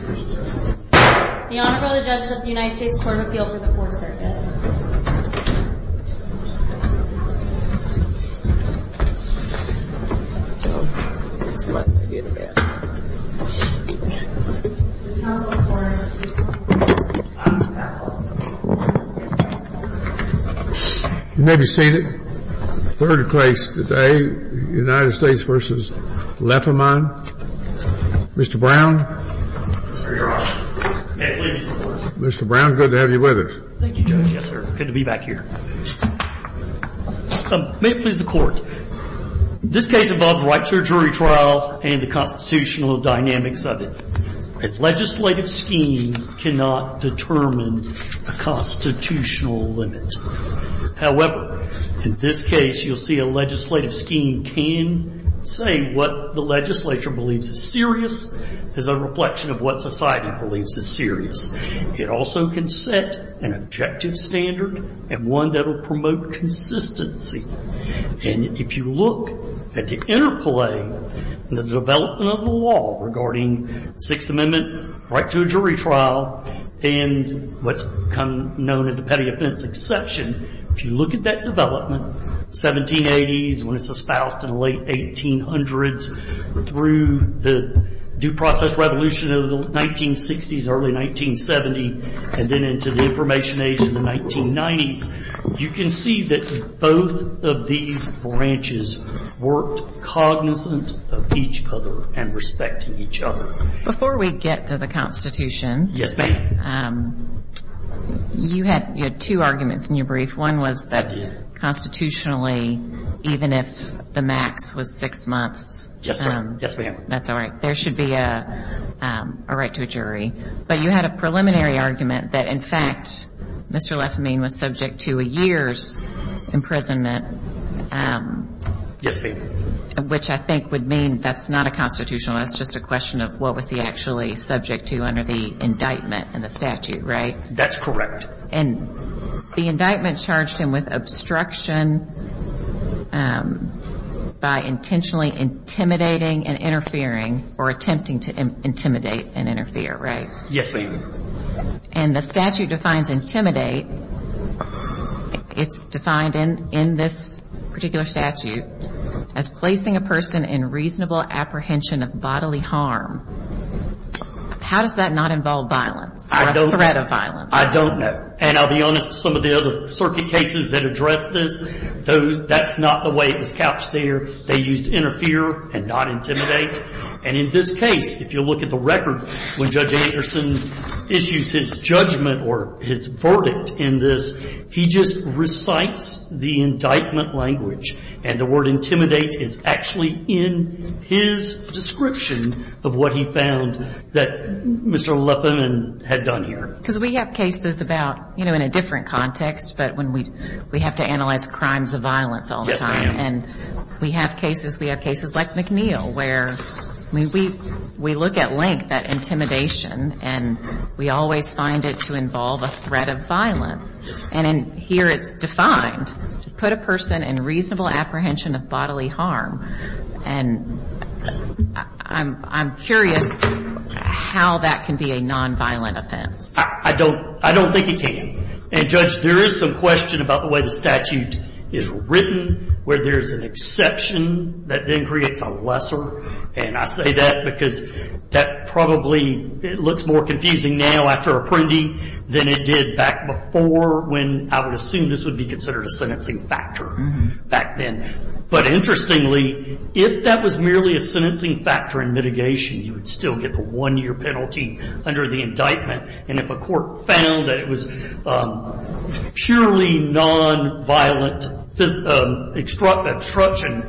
The Honorable Judge of the United States Court of Appeal for the 4th Circuit. You may be seated. Third case today, United States v. Lefemine. Mr. Brown. Mr. Brown, good to have you with us. Thank you, Judge. Yes, sir. Good to be back here. May it please the Court. This case involves right to a jury trial and the constitutional dynamics of it. A legislative scheme cannot determine a constitutional limit. However, in this case, you'll see a legislative scheme can say what the legislature believes is serious as a reflection of what society believes is serious. It also can set an objective standard and one that will promote consistency. And if you look at the interplay in the development of the law regarding the Sixth Amendment, right to a jury trial, and what's known as a petty offense exception, if you look at that development, 1780s when it's espoused in the late 1800s through the due process revolution of the 1960s, early 1970, and then into the Information Age in the 1990s, you can see that both of these branches worked cognizant of each other and respecting each other. Before we get to the Constitution. Yes, ma'am. You had two arguments in your brief. One was that constitutionally, even if the max was six months. Yes, ma'am. That's all right. There should be a right to a jury. But you had a preliminary argument that, in fact, Mr. Lefamine was subject to a year's imprisonment. Yes, ma'am. Which I think would mean that's not a constitutional. That's just a question of what was he actually subject to under the indictment and the statute, right? That's correct. And the indictment charged him with obstruction by intentionally intimidating and interfering or attempting to intimidate and interfere, right? Yes, ma'am. And the statute defines intimidate. It's defined in this particular statute as placing a person in reasonable apprehension of bodily harm. How does that not involve violence or a threat of violence? I don't know. And I'll be honest, some of the other circuit cases that address this, that's not the way it was couched there. They used interfere and not intimidate. And in this case, if you look at the record, when Judge Anderson issues his judgment or his verdict in this, he just recites the indictment language. And the word intimidate is actually in his description of what he found that Mr. Lefamine had done here. Because we have cases about, you know, in a different context, but when we have to analyze crimes of violence all the time. Yes, ma'am. And we have cases, we have cases like McNeil where we look at length at intimidation and we always find it to involve a threat of violence. Yes, ma'am. And here it's defined to put a person in reasonable apprehension of bodily harm. And I'm curious how that can be a nonviolent offense. I don't think it can. And, Judge, there is some question about the way the statute is written where there's an exception that then creates a lesser. And I say that because that probably looks more confusing now after apprendee than it did back before when I would assume this would be considered a sentencing factor back then. But interestingly, if that was merely a sentencing factor in mitigation, you would still get the one-year penalty under the indictment. And if a court found that it was purely nonviolent obstruction,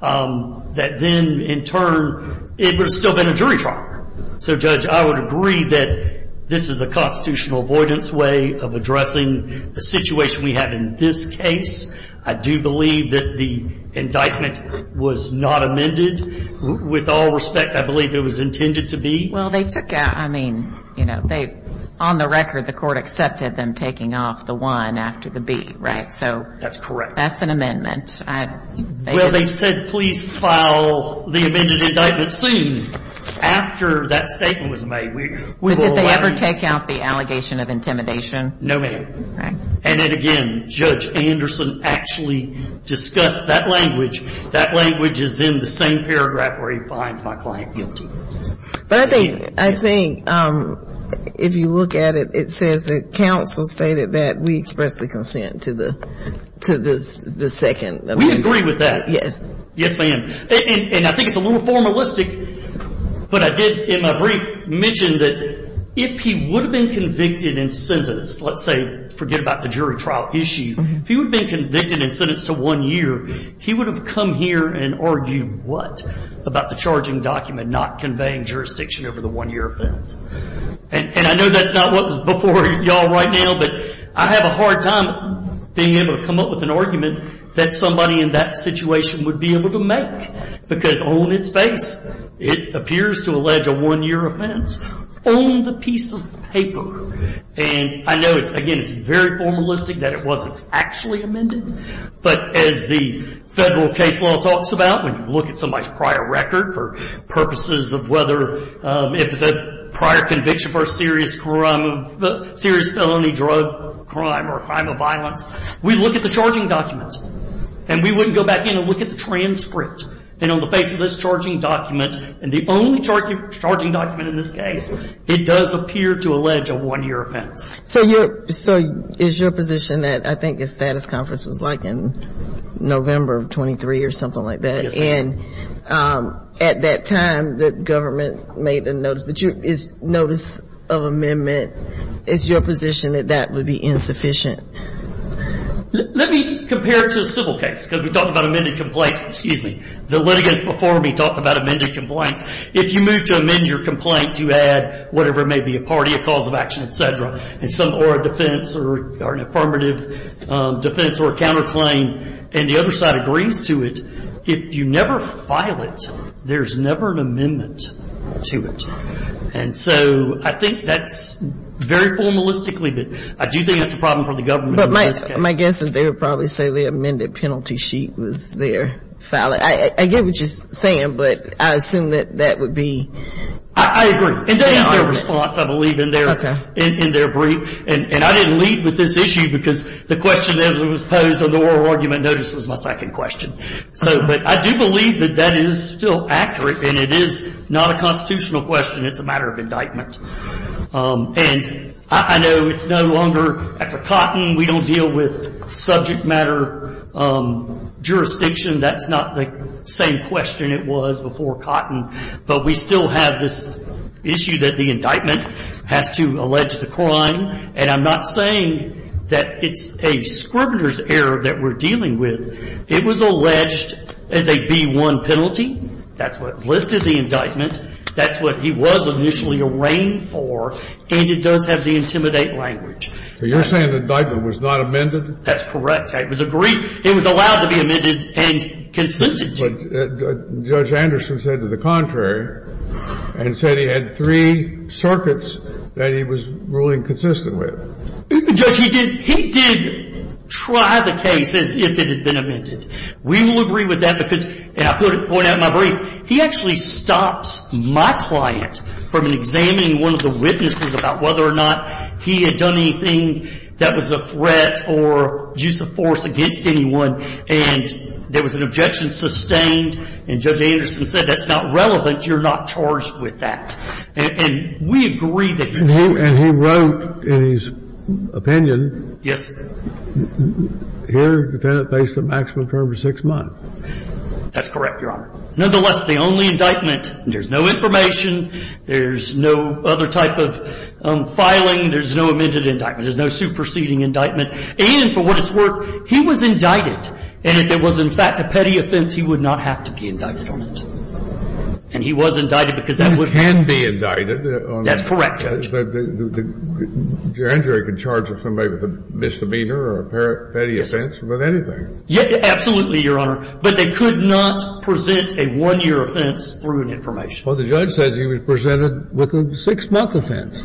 that then in turn it would have still been a jury trial. So, Judge, I would agree that this is a constitutional avoidance way of addressing the situation we have in this case. I do believe that the indictment was not amended. With all respect, I believe it was intended to be. Well, they took out, I mean, you know, on the record the court accepted them taking off the 1 after the B, right? That's correct. That's an amendment. Well, they said please file the amended indictment soon after that statement was made. But did they ever take out the allegation of intimidation? No, ma'am. And then again, Judge Anderson actually discussed that language. That language is in the same paragraph where he finds my client guilty. But I think if you look at it, it says that counsel stated that we expressed the consent to the second amendment. We agree with that. Yes. Yes, ma'am. And I think it's a little formalistic, but I did in my brief mention that if he would have been convicted and sentenced, let's say forget about the jury trial issue, if he would have been convicted and sentenced to one year, he would have come here and argued what about the charging document not conveying jurisdiction over the one-year offense. And I know that's not what's before you all right now, but I have a hard time being able to come up with an argument that somebody in that situation would be able to make, because on its face it appears to allege a one-year offense on the piece of paper. And I know, again, it's very formalistic that it wasn't actually amended. But as the Federal case law talks about, when you look at somebody's prior record for purposes of whether it was a prior conviction for a serious crime of ‑‑ serious felony drug crime or a crime of violence, we look at the charging document. And we wouldn't go back in and look at the transcript. And on the face of this charging document, and the only charging document in this case, it does appear to allege a one-year offense. So is your position that I think a status conference was like in November of 23 or something like that. Yes, ma'am. And at that time the government made the notice. But is notice of amendment, is your position that that would be insufficient? Let me compare it to a civil case, because we talk about amended complaints. Excuse me. The litigants before me talk about amended complaints. If you move to amend your complaint, you add whatever it may be, a party, a cause of action, et cetera, or a defense or an affirmative defense or a counterclaim, and the other side agrees to it, if you never file it, there's never an amendment to it. And so I think that's very formalistically, but I do think that's a problem for the government. But my guess is they would probably say the amended penalty sheet was there. I get what you're saying, but I assume that that would be. I agree. And that is their response, I believe, in their brief. And I didn't lead with this issue because the question that was posed on the oral argument notice was my second question. But I do believe that that is still accurate, and it is not a constitutional question. It's a matter of indictment. And I know it's no longer after Cotton. We don't deal with subject matter jurisdiction. That's not the same question it was before Cotton. But we still have this issue that the indictment has to allege the crime. And I'm not saying that it's a scrivener's error that we're dealing with. It was alleged as a B-1 penalty. That's what listed the indictment. That's what he was initially arraigned for, and it does have the intimidate language. So you're saying the indictment was not amended? That's correct. It was agreed. It was allowed to be amended and consented to. But Judge Anderson said to the contrary and said he had three circuits that he was ruling consistent with. Judge, he did try the case as if it had been amended. We will agree with that because, and I'll point out in my brief, he actually stopped my client from examining one of the witnesses about whether or not he had done anything that was a threat or use of force against anyone. And there was an objection sustained. And Judge Anderson said that's not relevant. You're not charged with that. And we agree that he did. And he wrote in his opinion. Yes. Here, defendant faced a maximum term of six months. That's correct, Your Honor. Nonetheless, the only indictment, there's no information. There's no other type of filing. There's no amended indictment. There's no superseding indictment. And for what it's worth, he was indicted. And if it was, in fact, a petty offense, he would not have to be indicted on it. And he was indicted because that was the case. He can be indicted. That's correct, Judge. Your injury could charge somebody with a misdemeanor or a petty offense with anything. Yes. Absolutely, Your Honor. But they could not present a one-year offense through an information. Well, the judge says he was presented with a six-month offense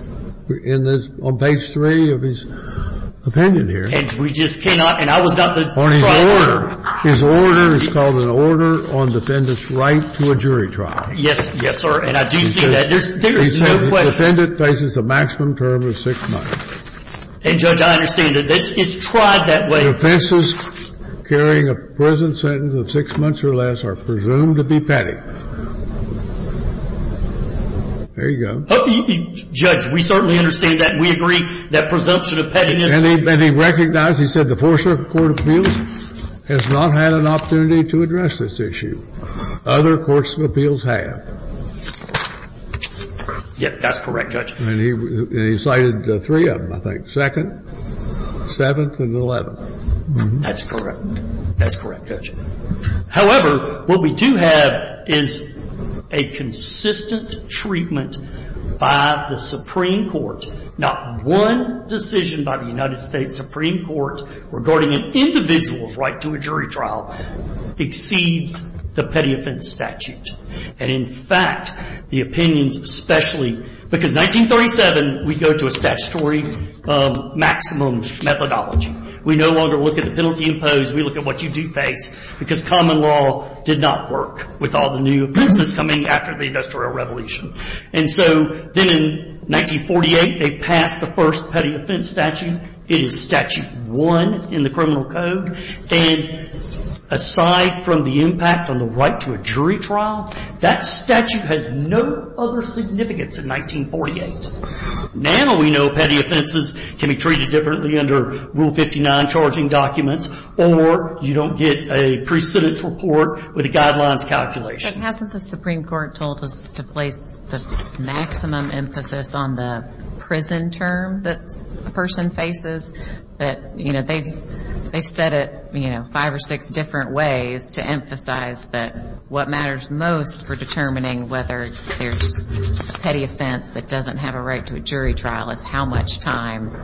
on page three of his opinion here. And we just cannot. And I was not the trial lawyer. His order is called an order on defendant's right to a jury trial. Yes, sir. And I do see that. There is no question. He says the defendant faces a maximum term of six months. And, Judge, I understand that it's tried that way. Defenses carrying a prison sentence of six months or less are presumed to be petty. There you go. Judge, we certainly understand that. We agree that presumption of pettiness. And he recognized, he said, the Fourth Circuit Court of Appeals has not had an opportunity to address this issue. Other courts of appeals have. Yes, that's correct, Judge. And he cited three of them, I think. Second, seventh, and eleventh. That's correct. That's correct, Judge. However, what we do have is a consistent treatment by the Supreme Court. Not one decision by the United States Supreme Court regarding an individual's right to a jury trial exceeds the petty offense statute. And, in fact, the opinions especially, because 1937, we go to a statutory maximum methodology. We no longer look at the penalty imposed. We look at what you do face, because common law did not work with all the new offenses coming after the Industrial Revolution. And so then in 1948, they passed the first petty offense statute. It is statute one in the criminal code. And aside from the impact on the right to a jury trial, that statute has no other significance in 1948. Now we know petty offenses can be treated differently under Rule 59 charging documents, or you don't get a precedence report with a guidelines calculation. But hasn't the Supreme Court told us to place the maximum emphasis on the prison term that a person faces? But, you know, they've said it, you know, five or six different ways to emphasize that what matters most for determining whether there's a petty offense that doesn't have a right to a jury trial is how much time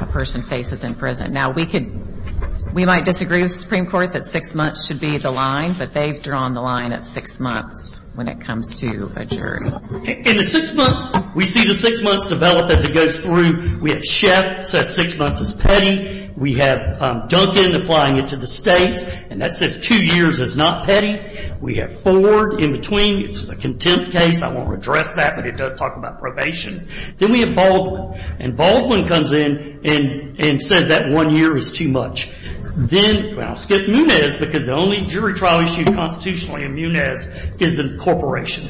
a person faces in prison. Now, we could, we might disagree with the Supreme Court that six months should be the line, but they've drawn the line at six months when it comes to a jury. In the six months, we see the six months develop as it goes through. We have Sheff says six months is petty. We have Duncan applying it to the states, and that says two years is not petty. We have Ford in between. It's a contempt case. I won't address that, but it does talk about probation. Then we have Baldwin. And Baldwin comes in and says that one year is too much. Then, well, skip Munez because the only jury trial issue constitutionally in Munez is the corporation.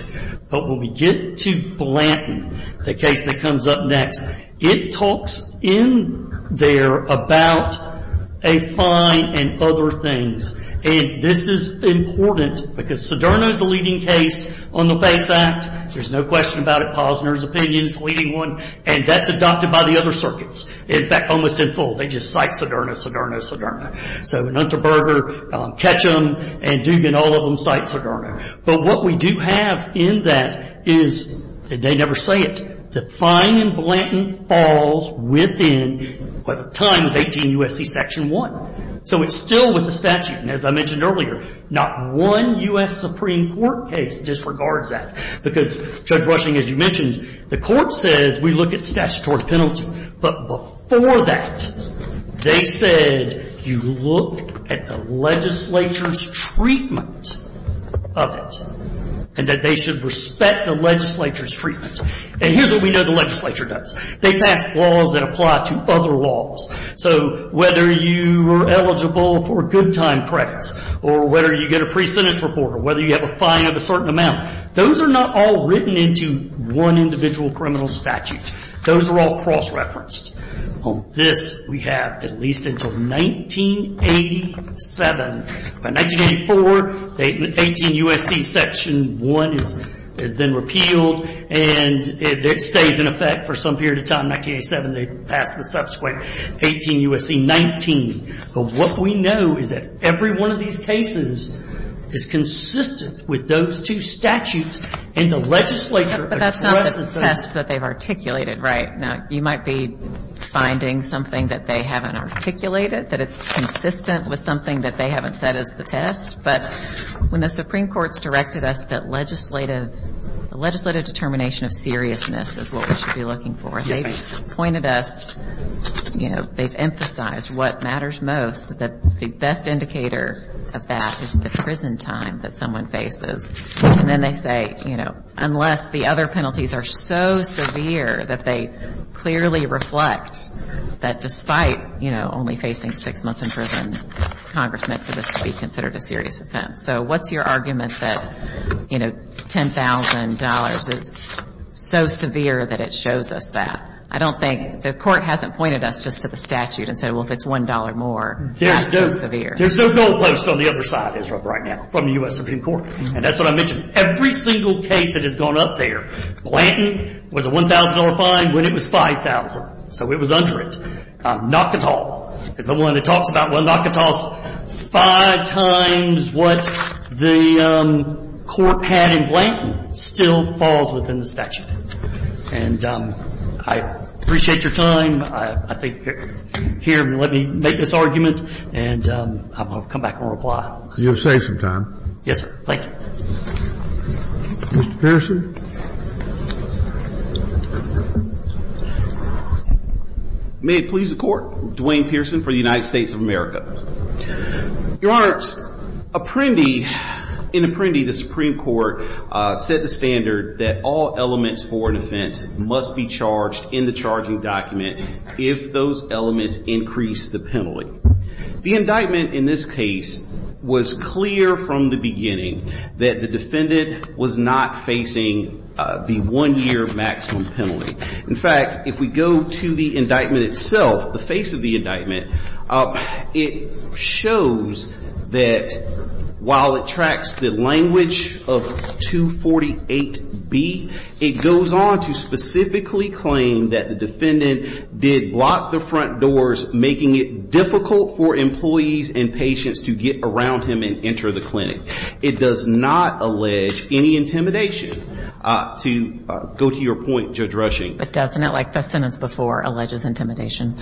But when we get to Blanton, the case that comes up next, it talks in there about a fine and other things. And this is important because Soderno is the leading case on the FACE Act. There's no question about it. Posner's opinion is the leading one, and that's adopted by the other circuits. In fact, almost in full, they just cite Soderno, Soderno, Soderno. So Nutterberger, Ketchum, and Dugan, all of them cite Soderno. But what we do have in that is, and they never say it, the fine in Blanton falls within what at the time is 18 U.S.C. Section 1. So it's still with the statute. And as I mentioned earlier, not one U.S. Supreme Court case disregards that because, Judge Rushing, as you mentioned, the Court says we look at statutory penalty. But before that, they said you look at the legislature's treatment of it and that they should respect the legislature's treatment. And here's what we know the legislature does. They pass laws that apply to other laws. So whether you are eligible for good time credits or whether you get a pre-sentence report or whether you have a fine of a certain amount, those are not all written into one individual criminal statute. Those are all cross-referenced. On this, we have at least until 1987. By 1984, 18 U.S.C. Section 1 is then repealed. And it stays in effect for some period of time. In 1987, they passed the subsequent 18 U.S.C. 19. But what we know is that every one of these cases is consistent with those two statutes in the legislature. But that's not the test that they've articulated, right? Now, you might be finding something that they haven't articulated, that it's consistent with something that they haven't said is the test. But when the Supreme Court's directed us that legislative determination of seriousness is what we should be looking for, they've pointed us, you know, they've emphasized what matters most, that the best indicator of that is the prison time that someone faces. And then they say, you know, unless the other penalties are so severe that they clearly reflect that despite, you know, only facing six months in prison, Congressman, for this to be considered a serious offense. So what's your argument that, you know, $10,000 is so severe that it shows us that? I don't think the Court hasn't pointed us just to the statute and said, well, if it's $1 more, that's too severe. There's no goal post on the other side, Ezra, right now from the U.S. Supreme Court. And that's what I mentioned. Every single case that has gone up there, Blanton was a $1,000 fine when it was $5,000. So it was under it. Nakata is the one that talks about, well, Nakata's five times what the Court had in Blanton still falls within the statute. And I appreciate your time. I think here, let me make this argument, and I'll come back and reply. You'll save some time. Yes, sir. Thank you. Mr. Pearson. May it please the Court. Dwayne Pearson for the United States of America. Your Honor, Apprendi, in Apprendi, the Supreme Court set the standard that all elements for an offense must be charged in the charging document. If those elements increase the penalty. The indictment in this case was clear from the beginning that the defendant was not facing the one-year maximum penalty. In fact, if we go to the indictment itself, the face of the indictment, it shows that while it tracks the language of 248B, it goes on to specifically claim that the defendant did block the front doors, making it difficult for employees and patients to get around him and enter the clinic. It does not allege any intimidation. To go to your point, Judge Rushing. But doesn't it, like the sentence before, alleges intimidation?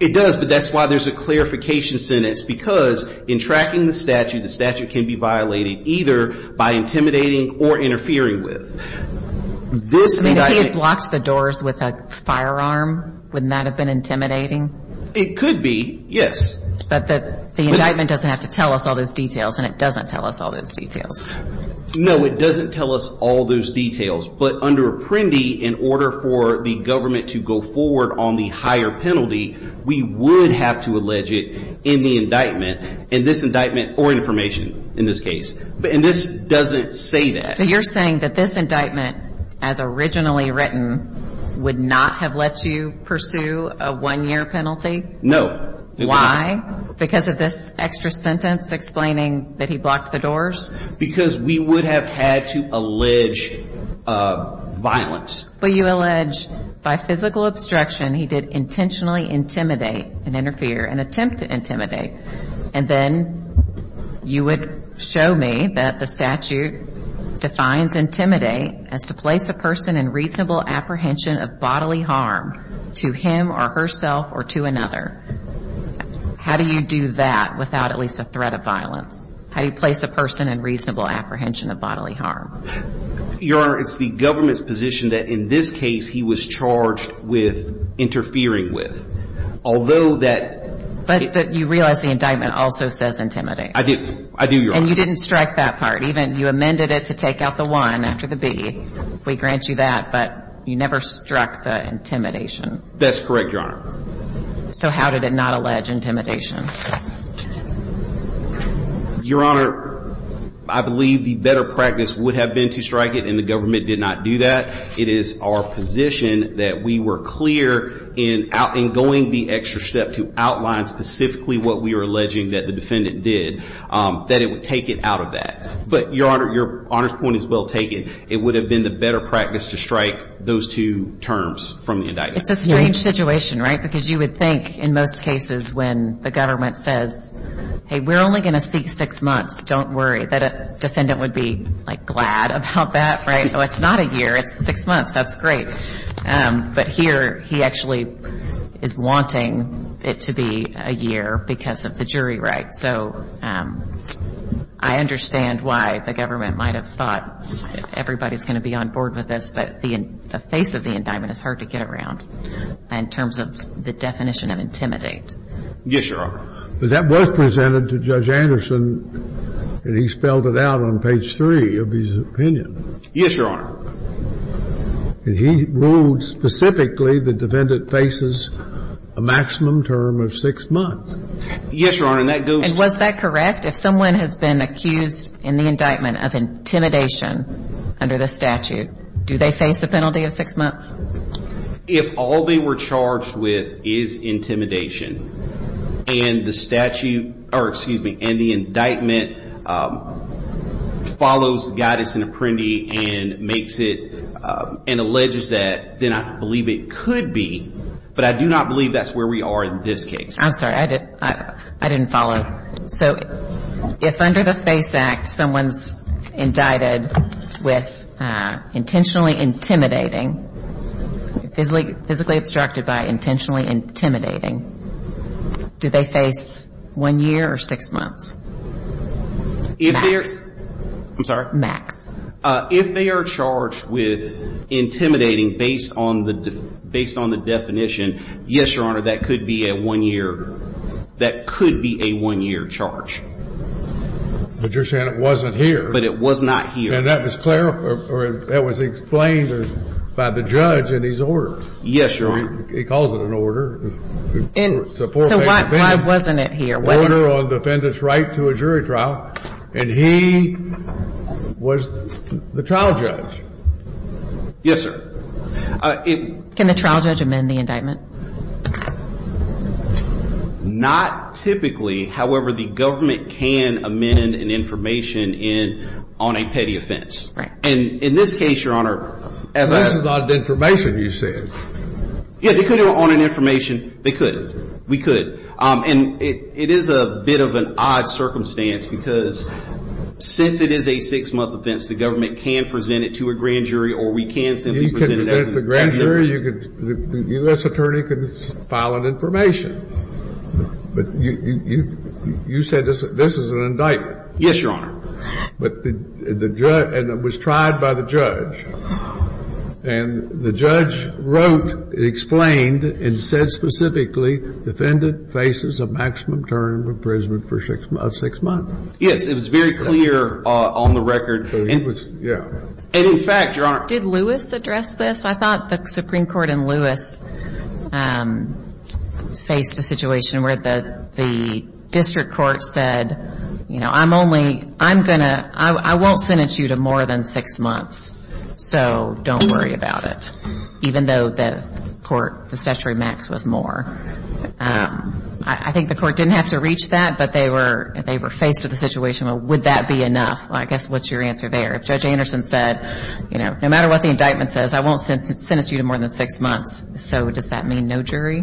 It does, but that's why there's a clarification sentence, because in tracking the statute, the statute can be violated either by intimidating or interfering with. If he had blocked the doors with a firearm, wouldn't that have been intimidating? It could be, yes. But the indictment doesn't have to tell us all those details, and it doesn't tell us all those details. No, it doesn't tell us all those details, but under Apprendi, in order for the government to go forward on the higher penalty, we would have to allege it in the indictment, in this indictment or in information in this case. And this doesn't say that. So you're saying that this indictment, as originally written, would not have let you pursue a one-year penalty? No. Why? Because of this extra sentence explaining that he blocked the doors? Because we would have had to allege violence. But you allege, by physical obstruction, he did intentionally intimidate and interfere and attempt to intimidate, and then you would show me that the statute defines intimidate as to place a person in reasonable apprehension of bodily harm to him or herself or to another. How do you do that without at least a threat of violence? How do you place a person in reasonable apprehension of bodily harm? Your Honor, it's the government's position that in this case, he was charged with interfering with. But you realize the indictment also says intimidate. I do, Your Honor. And you didn't strike that part. You amended it to take out the one after the B. We grant you that, but you never struck the intimidation. That's correct, Your Honor. So how did it not allege intimidation? Your Honor, I believe the better practice would have been to strike it, and the government did not do that. It is our position that we were clear in going the extra step to outline specifically what we were alleging that the defendant did, that it would take it out of that. But, Your Honor, your honest point is well taken. It would have been the better practice to strike those two terms from the indictment. It's a strange situation, right, because you would think in most cases when the government says, hey, we're only going to speak six months, don't worry, that a defendant would be, like, glad about that, right? Oh, it's not a year. It's six months. That's great. But here he actually is wanting it to be a year because of the jury rights. So I understand why the government might have thought everybody's going to be on board with this, but the face of the indictment is hard to get around in terms of the definition of intimidate. Yes, Your Honor. But that was presented to Judge Anderson, and he spelled it out on page three of his opinion. Yes, Your Honor. And he ruled specifically the defendant faces a maximum term of six months. Yes, Your Honor, and that goes to- And was that correct? If someone has been accused in the indictment of intimidation under the statute, do they face the penalty of six months? If all they were charged with is intimidation and the statute, or excuse me, and the indictment follows guidance and apprendi and makes it and alleges that, then I believe it could be, but I do not believe that's where we are in this case. I'm sorry. I didn't follow. So if under the FACE Act someone's indicted with intentionally intimidating, physically obstructed by intentionally intimidating, do they face one year or six months? If they're- Max. I'm sorry? Max. If they are charged with intimidating based on the definition, yes, Your Honor, that could be a one year. That could be a one year charge. But you're saying it wasn't here. But it was not here. And that was explained by the judge in his order. Yes, Your Honor. He calls it an order. So why wasn't it here? Order on defendant's right to a jury trial, and he was the trial judge. Yes, sir. Can the trial judge amend the indictment? Not typically. However, the government can amend an information on a petty offense. Right. And in this case, Your Honor, as I- So this is not an information, you said. Yes, they could amend it on an information. They could. We could. And it is a bit of an odd circumstance because since it is a six-month offense, the government can present it to a grand jury or we can simply present it as an indictment. Well, here you could, the U.S. attorney could file an information. But you said this is an indictment. Yes, Your Honor. But the judge, and it was tried by the judge, and the judge wrote, explained and said specifically, defendant faces a maximum term of imprisonment for six months. Yes, it was very clear on the record. Yeah. And in fact, Your Honor- Did Lewis address this? I thought the Supreme Court in Lewis faced a situation where the district court said, you know, I'm only, I'm going to, I won't sentence you to more than six months, so don't worry about it, even though the court, the statutory max was more. I think the court didn't have to reach that, but they were faced with a situation, well, would that be enough? I guess what's your answer there? If Judge Anderson said, you know, no matter what the indictment says, I won't sentence you to more than six months. So does that mean no jury?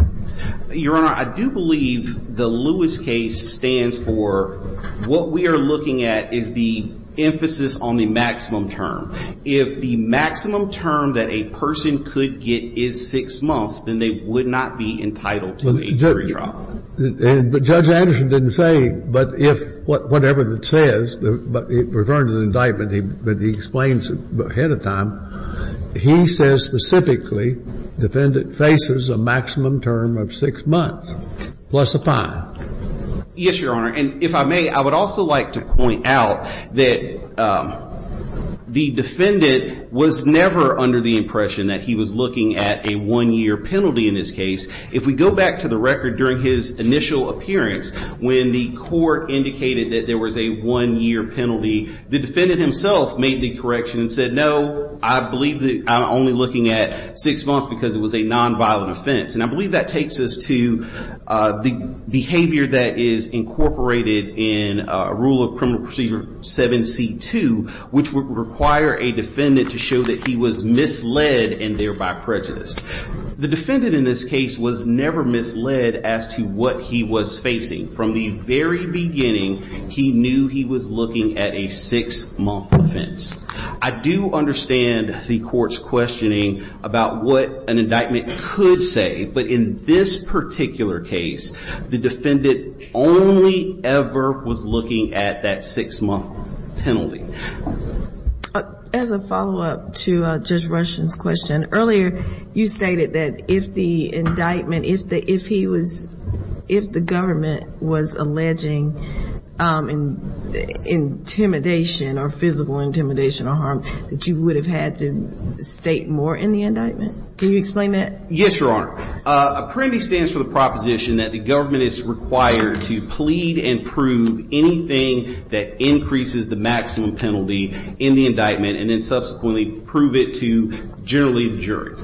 Your Honor, I do believe the Lewis case stands for what we are looking at is the emphasis on the maximum term. If the maximum term that a person could get is six months, then they would not be entitled to a jury trial. But Judge Anderson didn't say, but if whatever it says, but referring to the indictment, but he explains ahead of time, he says specifically defendant faces a maximum term of six months plus a fine. Yes, Your Honor. And if I may, I would also like to point out that the defendant was never under the impression that he was looking at a one-year penalty in this case. If we go back to the record during his initial appearance, when the court indicated that there was a one-year penalty, the defendant himself made the correction and said, no, I believe that I'm only looking at six months because it was a nonviolent offense. And I believe that takes us to the behavior that is incorporated in Rule of Criminal Procedure 7C2, which would require a defendant to show that he was misled and thereby prejudiced. The defendant in this case was never misled as to what he was facing. From the very beginning, he knew he was looking at a six-month offense. I do understand the court's questioning about what an indictment could say. But in this particular case, the defendant only ever was looking at that six-month penalty. As a follow-up to Judge Rushen's question, earlier you stated that if the indictment, if he was, if the government was alleging intimidation or physical intimidation or harm, that you would have had to state more in the indictment. Can you explain that? Yes, Your Honor. Apprendi stands for the proposition that the government is required to plead and prove anything that increases the maximum penalty in the indictment and then subsequently prove it to generally the jury.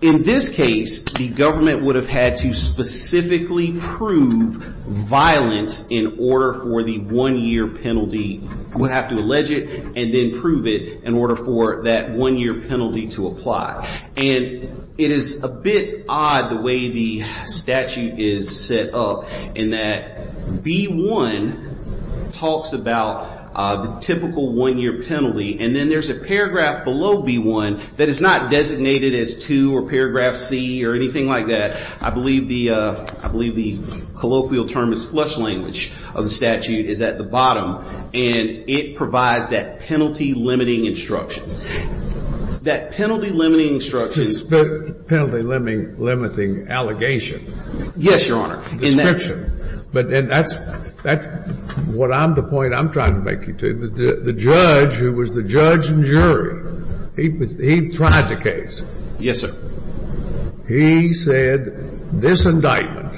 In this case, the government would have had to specifically prove violence in order for the one-year penalty. It would have to allege it and then prove it in order for that one-year penalty to apply. It is a bit odd the way the statute is set up in that B-1 talks about the typical one-year penalty. Then there's a paragraph below B-1 that is not designated as 2 or paragraph C or anything like that. I believe the colloquial term is flush language of the statute is at the bottom. It provides that penalty-limiting instruction. That penalty-limiting instruction. Penalty-limiting allegation. Yes, Your Honor. Description. And that's what I'm the point I'm trying to make to you. The judge who was the judge and jury, he tried the case. Yes, sir. He said this indictment,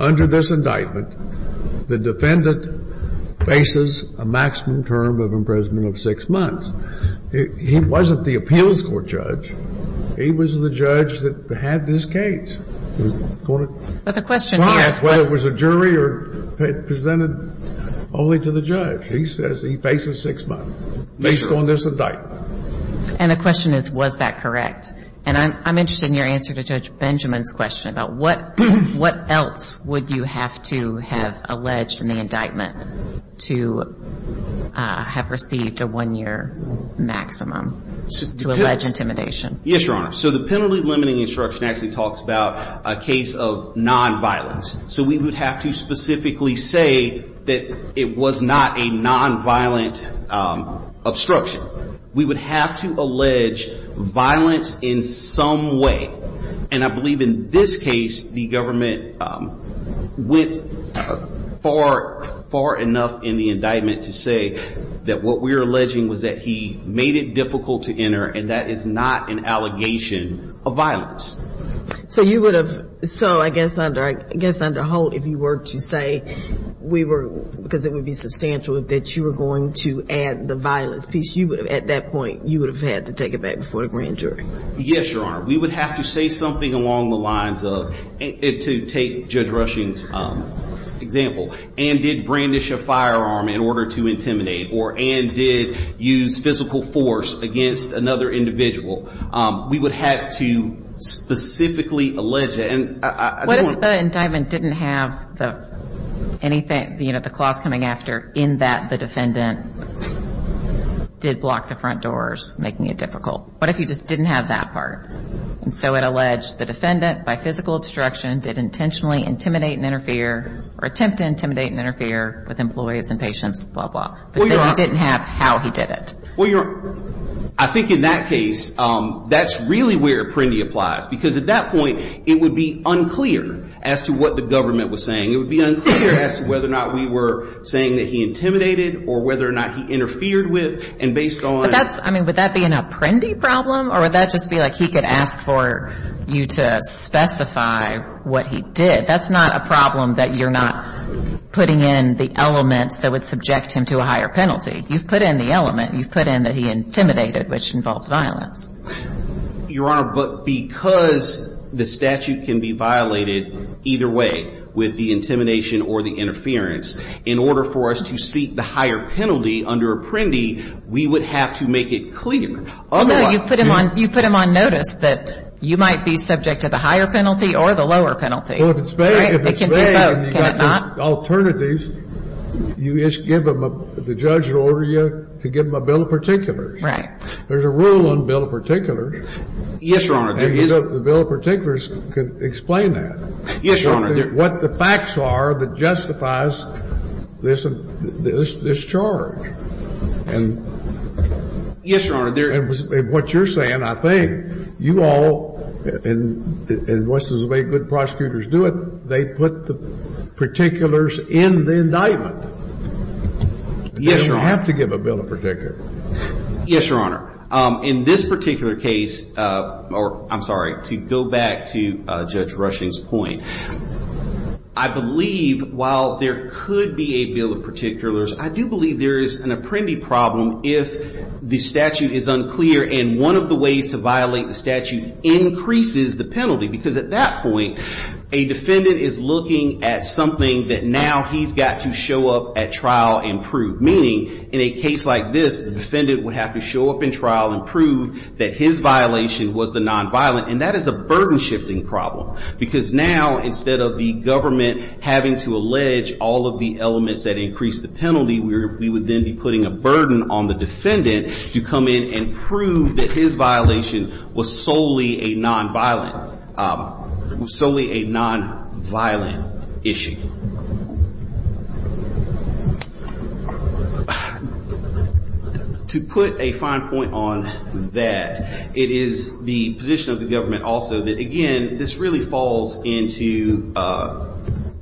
under this indictment, the defendant faces a maximum term of imprisonment of six months. He wasn't the appeals court judge. He was the judge that had this case. But the question here is whether it was a jury or presented only to the judge. He says he faces six months based on this indictment. And the question is, was that correct? And I'm interested in your answer to Judge Benjamin's question about what else would you have to have alleged in the indictment to have received a one-year maximum to allege intimidation. Yes, Your Honor. So the penalty-limiting instruction actually talks about a case of nonviolence. So we would have to specifically say that it was not a nonviolent obstruction. We would have to allege violence in some way. And I believe in this case, the government went far, far enough in the indictment to say that what we're alleging was that he made it difficult to enter, and that is not an allegation of violence. So you would have, so I guess under Holt, if you were to say we were, because it would be substantial that you were going to add the violence piece, you would have, at that point, you would have had to take it back before the grand jury. Yes, Your Honor. We would have to say something along the lines of, to take Judge Rushing's example, Ann did brandish a firearm in order to intimidate, or Ann did use physical force against another individual. We would have to specifically allege that. What if the indictment didn't have anything, you know, the clause coming after, in that the defendant did block the front doors, making it difficult? What if you just didn't have that part? And so it alleged the defendant, by physical obstruction, did intentionally intimidate and interfere, or attempt to intimidate and interfere with employees and patients, blah, blah. But then you didn't have how he did it. Well, Your Honor, I think in that case, that's really where Apprendi applies, because at that point, it would be unclear as to what the government was saying. It would be unclear as to whether or not we were saying that he intimidated or whether or not he interfered with, and based on. But that's, I mean, would that be an Apprendi problem, or would that just be like he could ask for you to specify what he did? That's not a problem that you're not putting in the elements that would subject him to a higher penalty. You've put in the element. You've put in that he intimidated, which involves violence. Your Honor, but because the statute can be violated either way, with the intimidation or the interference, in order for us to seek the higher penalty under Apprendi, we would have to make it clear. Although you've put him on notice that you might be subject to the higher penalty or the lower penalty. Well, if it's vague and you've got those alternatives, you just give him a – the judge will order you to give him a bill of particulars. Right. There's a rule on bill of particulars. Yes, Your Honor. And the bill of particulars could explain that. Yes, Your Honor. What the facts are that justifies this charge. Yes, Your Honor. And what you're saying, I think, you all, and the way good prosecutors do it, they put the particulars in the indictment. Yes, Your Honor. They don't have to give a bill of particulars. Yes, Your Honor. In this particular case, or I'm sorry, to go back to Judge Rushing's point, I believe while there could be a bill of particulars, I do believe there is an Apprendi problem if the statute is unclear and one of the ways to violate the statute increases the penalty. Because at that point, a defendant is looking at something that now he's got to show up at trial and prove. Meaning, in a case like this, the defendant would have to show up in trial and prove that his violation was the nonviolent. And that is a burden shifting problem. Because now, instead of the government having to allege all of the elements that increase the penalty, we would then be putting a burden on the defendant to come in and prove that his violation was solely a nonviolent issue. To put a fine point on that, it is the position of the government also that, again, this really falls into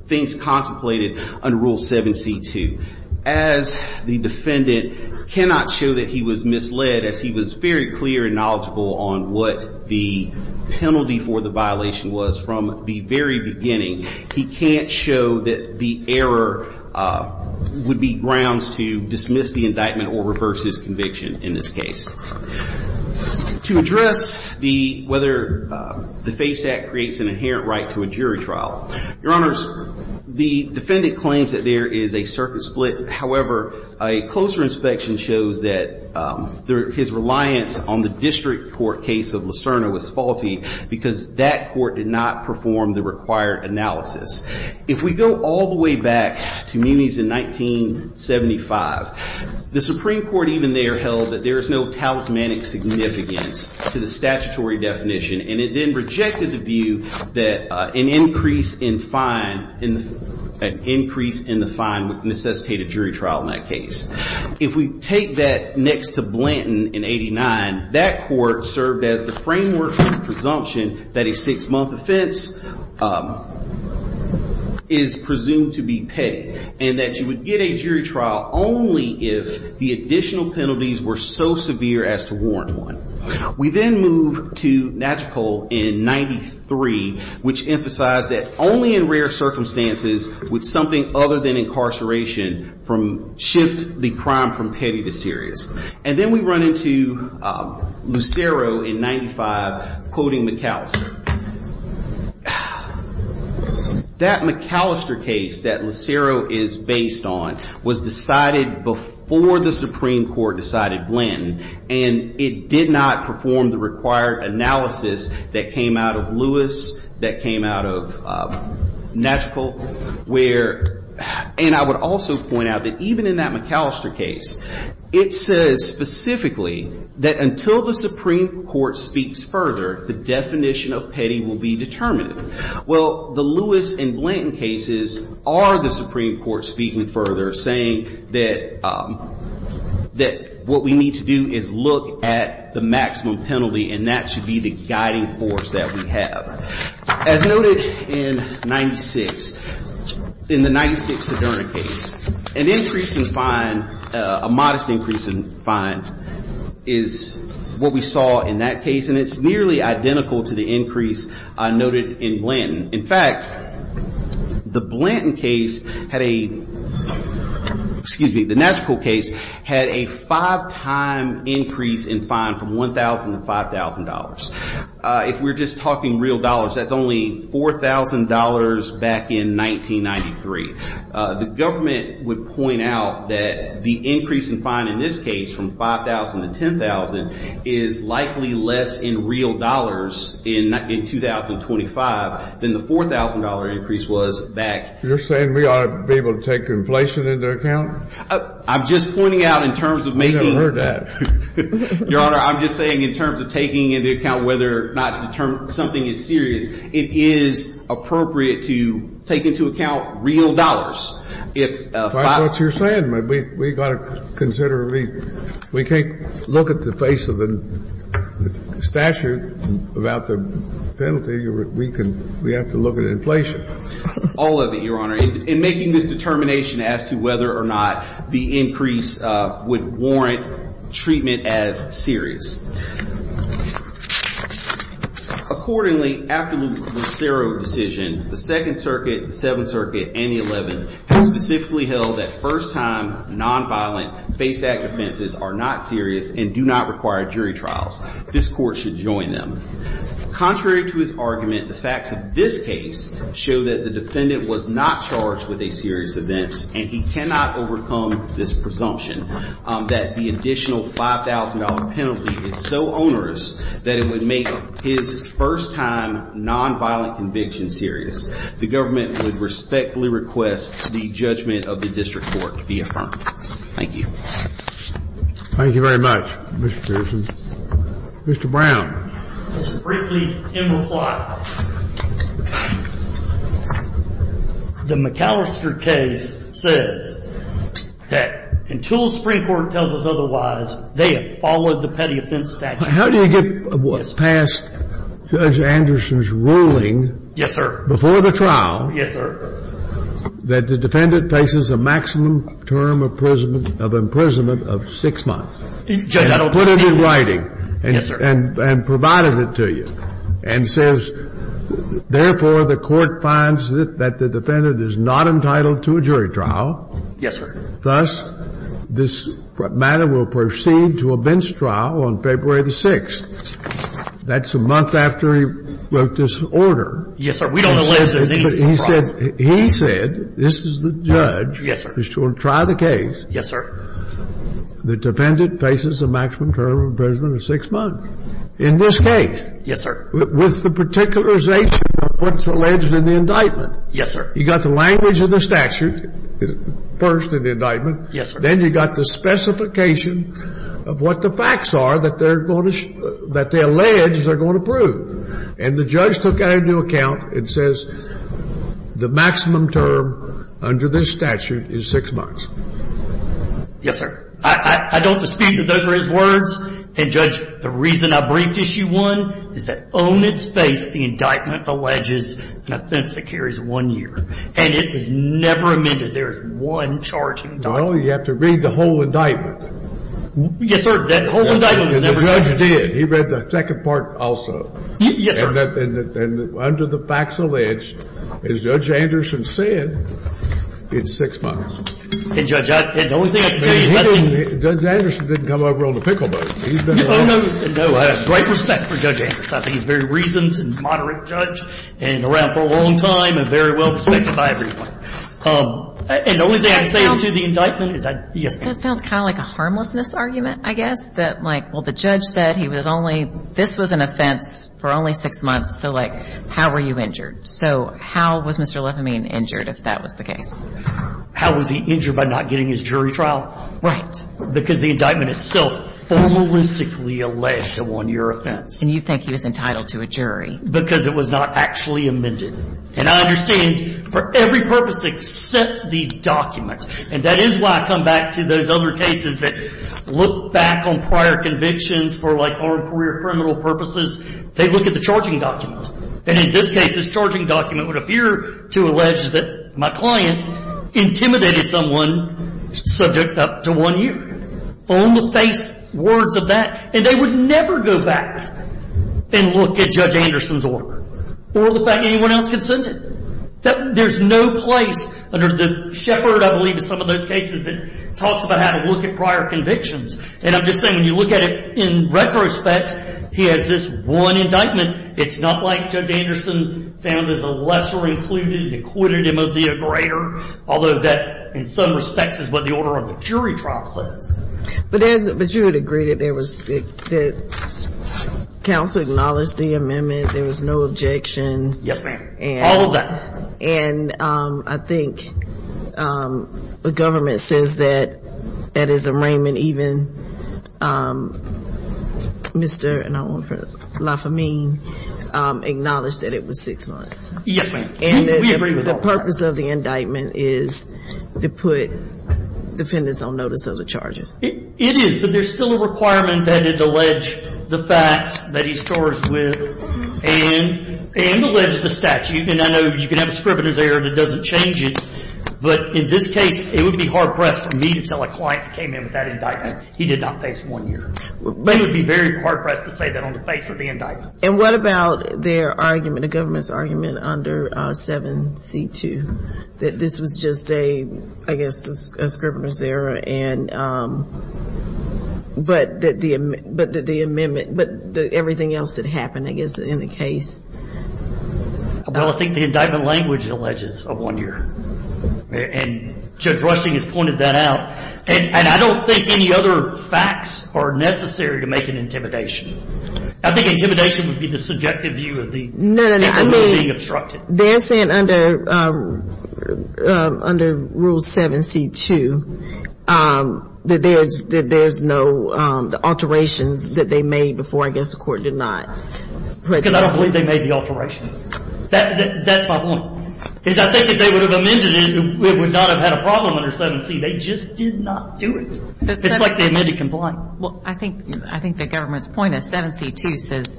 things contemplated under Rule 7c2. As the defendant cannot show that he was misled, as he was very clear and knowledgeable on what the penalty for the violation was from the very beginning, he can't show that the error would be grounds to dismiss the indictment or reverse his conviction in this case. To address whether the FASE Act creates an inherent right to a jury trial, Your Honors, the defendant claims that there is a circuit split. However, a closer inspection shows that his reliance on the district court case of Lucerna was faulty because that court did not perform the required analysis. If we go all the way back to Muniz in 1975, the Supreme Court even there held that there is no talismanic significance to the statutory definition. And it then rejected the view that an increase in the fine would necessitate a jury trial in that case. If we take that next to Blanton in 89, that court served as the framework for the presumption that a six-month offense is presumed to be petty and that you would get a jury trial only if the additional penalties were so severe as to warrant one. We then move to Natchitol in 93, which emphasized that only in rare circumstances would something other than incarceration shift the crime from petty to serious. And then we run into Lucero in 95, quoting McAllister. That McAllister case that Lucero is based on was decided before the Supreme Court decided Blanton. And it did not perform the required analysis that came out of Lewis, that came out of Natchitol. And I would also point out that even in that McAllister case, it says specifically that until the Supreme Court speaks further, the definition of petty will be determined. Well, the Lewis and Blanton cases are the Supreme Court speaking further, saying that what we need to do is look at the maximum penalty and that should be the guiding force that we have. As noted in 96, in the 96 Sedona case, an increase in fine, a modest increase in fine, is what we saw in that case. And it's nearly identical to the increase noted in Blanton. In fact, the Blanton case had a five-time increase in fine from $1,000 to $5,000. If we're just talking real dollars, that's only $4,000 back in 1993. The government would point out that the increase in fine in this case, from $5,000 to $10,000, is likely less in real dollars in 2025 than the $4,000 increase was back. You're saying we ought to be able to take inflation into account? I'm just pointing out in terms of making – We've never heard that. Your Honor, I'm just saying in terms of taking into account whether or not something is serious, it is appropriate to take into account real dollars. If $5,000 – That's what you're saying. We've got to consider – we can't look at the face of the statute without the penalty. We have to look at inflation. All of it, Your Honor, in making this determination as to whether or not the increase would warrant treatment as serious. Accordingly, after Lucero's decision, the Second Circuit, the Seventh Circuit, and the 11th have specifically held that first-time, nonviolent, face-act offenses are not serious and do not require jury trials. This court should join them. Contrary to his argument, the facts of this case show that the defendant was not charged with a serious event, and he cannot overcome this presumption that the additional $5,000 penalty is so onerous that it would make his first-time, nonviolent conviction serious. The government would respectfully request the judgment of the district court be affirmed. Thank you. Thank you very much, Mr. Pearson. Mr. Brown. This is briefly in reply. The McAllister case says that until the Supreme Court tells us otherwise, they have followed the petty offense statute. How do you get past Judge Anderson's ruling? Yes, sir. Before the trial. Yes, sir. That the defendant faces a maximum term of imprisonment of 6 months. Judge, I don't understand. And put it in writing. Yes, sir. And provided it to you. And says, therefore, the court finds that the defendant is not entitled to a jury trial. Yes, sir. Thus, this matter will proceed to a bench trial on February the 6th. That's a month after he wrote this order. Yes, sir. We don't know whether there's any such trial. He said, this is the judge. Yes, sir. Who will try the case. Yes, sir. The defendant faces a maximum term of imprisonment of 6 months. In this case. Yes, sir. With the particularization of what's alleged in the indictment. Yes, sir. You got the language of the statute first in the indictment. Yes, sir. Then you got the specification of what the facts are that they're going to, that they allege they're going to prove. And the judge took that into account and says, the maximum term under this statute is 6 months. Yes, sir. I don't dispute that those are his words. And, Judge, the reason I briefed Issue 1 is that on its face the indictment alleges an offense that carries one year. And it was never amended. There is one charge in the indictment. Well, you have to read the whole indictment. Yes, sir. That whole indictment was never changed. And the judge did. He read the second part also. Yes, sir. And under the facts alleged, as Judge Anderson said, it's 6 months. And, Judge, the only thing I can tell you is that thing. Judge Anderson didn't come over on a pickle boat. He's been around. Oh, no, no. I have great respect for Judge Anderson. I think he's a very reasoned and moderate judge and around for a long time and very well respected by everyone. And the only thing I can say to the indictment is that, yes, ma'am. That sounds kind of like a harmlessness argument, I guess, that, like, well, the judge said he was only – this was an offense for only 6 months. So, like, how were you injured? So how was Mr. Lefamine injured if that was the case? How was he injured by not getting his jury trial? Right. Because the indictment itself formalistically alleged a 1-year offense. And you think he was entitled to a jury. Because it was not actually amended. And I understand for every purpose except the document. And that is why I come back to those other cases that look back on prior convictions for, like, armed career criminal purposes. They look at the charging document. And in this case, this charging document would appear to allege that my client intimidated someone subject up to 1 year. On the face, words of that. And they would never go back and look at Judge Anderson's order. Or the fact anyone else could send it. There's no place under the shepherd, I believe, of some of those cases that talks about how to look at prior convictions. And I'm just saying when you look at it in retrospect, he has this one indictment. It's not like Judge Anderson found as a lesser included and acquitted him of the greater. Although that, in some respects, is what the order of the jury trial says. But you would agree that there was, that counsel acknowledged the amendment. There was no objection. Yes, ma'am. All of that. And I think the government says that that is arraignment even. Mr. Lafamine acknowledged that it was 6 months. Yes, ma'am. And the purpose of the indictment is to put defendants on notice of the charges. It is. But there's still a requirement that it allege the facts that he's charged with. And it alleges the statute. And I know you can have a scrivener's error that doesn't change it. But in this case, it would be hard pressed for me to tell a client who came in with that indictment he did not face one year. They would be very hard pressed to say that on the face of the indictment. And what about their argument, the government's argument under 7C2, that this was just a, I guess, a scrivener's error. But that the amendment, but everything else that happened, I guess, in the case. Well, I think the indictment language alleges of one year. And Judge Rushing has pointed that out. And I don't think any other facts are necessary to make an intimidation. I think intimidation would be the subjective view of the indictment being obstructed. They're saying under Rule 7C2 that there's no alterations that they made before, I guess, the court did not. Because I don't believe they made the alterations. That's my point. I think if they would have amended it, it would not have had a problem under 7C. They just did not do it. It's like the amended complaint. Well, I think the government's point is 7C2 says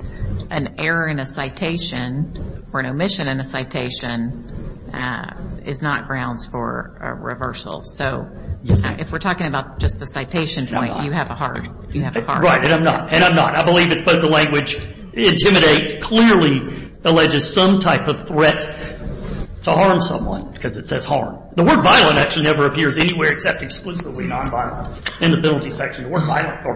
an error in a citation or an omission in a citation is not grounds for a reversal. So if we're talking about just the citation point, you have a hard. Right. And I'm not. And I'm not. I believe it's both the language intimidate clearly alleges some type of threat to harm someone because it says harm. The word violent actually never appears anywhere except exclusively nonviolent in the penalty section. The word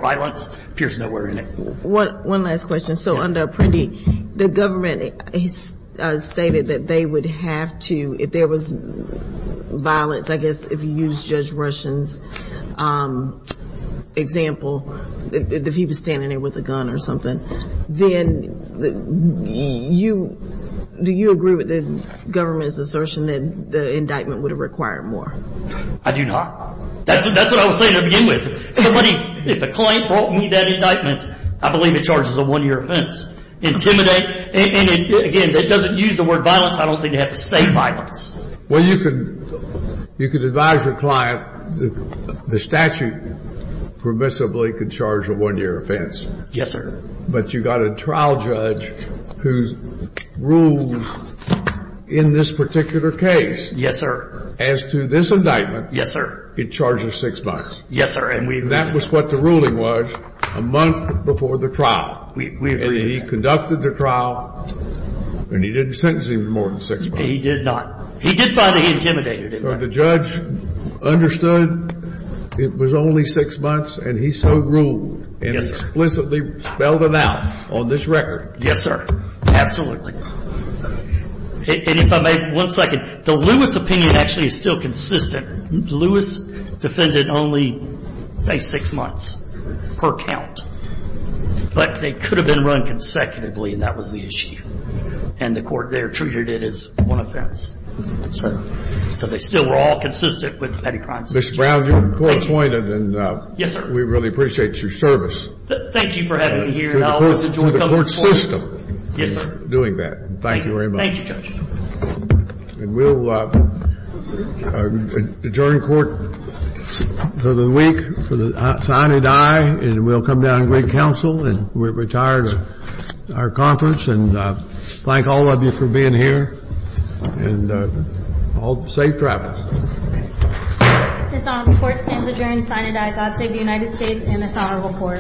violence appears nowhere in it. One last question. So under Apprendi, the government stated that they would have to, if there was violence, I guess, if you use Judge Rushen's example, if he was standing there with a gun or something, then you, do you agree with the government's assertion that the indictment would have required more? I do not. That's what I was saying to begin with. If a client brought me that indictment, I believe it charges a one-year offense. Intimidate, and again, that doesn't use the word violence. I don't think they have to say violence. Well, you can advise your client the statute permissibly could charge a one-year offense. Yes, sir. But you've got a trial judge who rules in this particular case. Yes, sir. As to this indictment. Yes, sir. It charges six months. Yes, sir. And we agree. That was what the ruling was a month before the trial. We agree. And he conducted the trial, and he didn't sentence him more than six months. He did not. He did find it intimidating. So the judge understood it was only six months, and he so ruled. And explicitly spelled it out on this record. Yes, sir. Absolutely. And if I may, one second. The Lewis opinion actually is still consistent. Lewis defended only a six months per count. But they could have been run consecutively, and that was the issue. And the court there treated it as one offense. So they still were all consistent with the petty crimes. Mr. Brown, you're appointed. Yes, sir. And we really appreciate your service. Thank you for having me here. And I always enjoy coming to court. To the court system. Yes, sir. Doing that. Thank you very much. Thank you, Judge. And we'll adjourn court for the week. Signe and I, and we'll come down and greet counsel. And we're retired of our conference. And thank all of you for being here. And safe travels. This honorable court stands adjourned. Signe and I, God save the United States and this honorable court.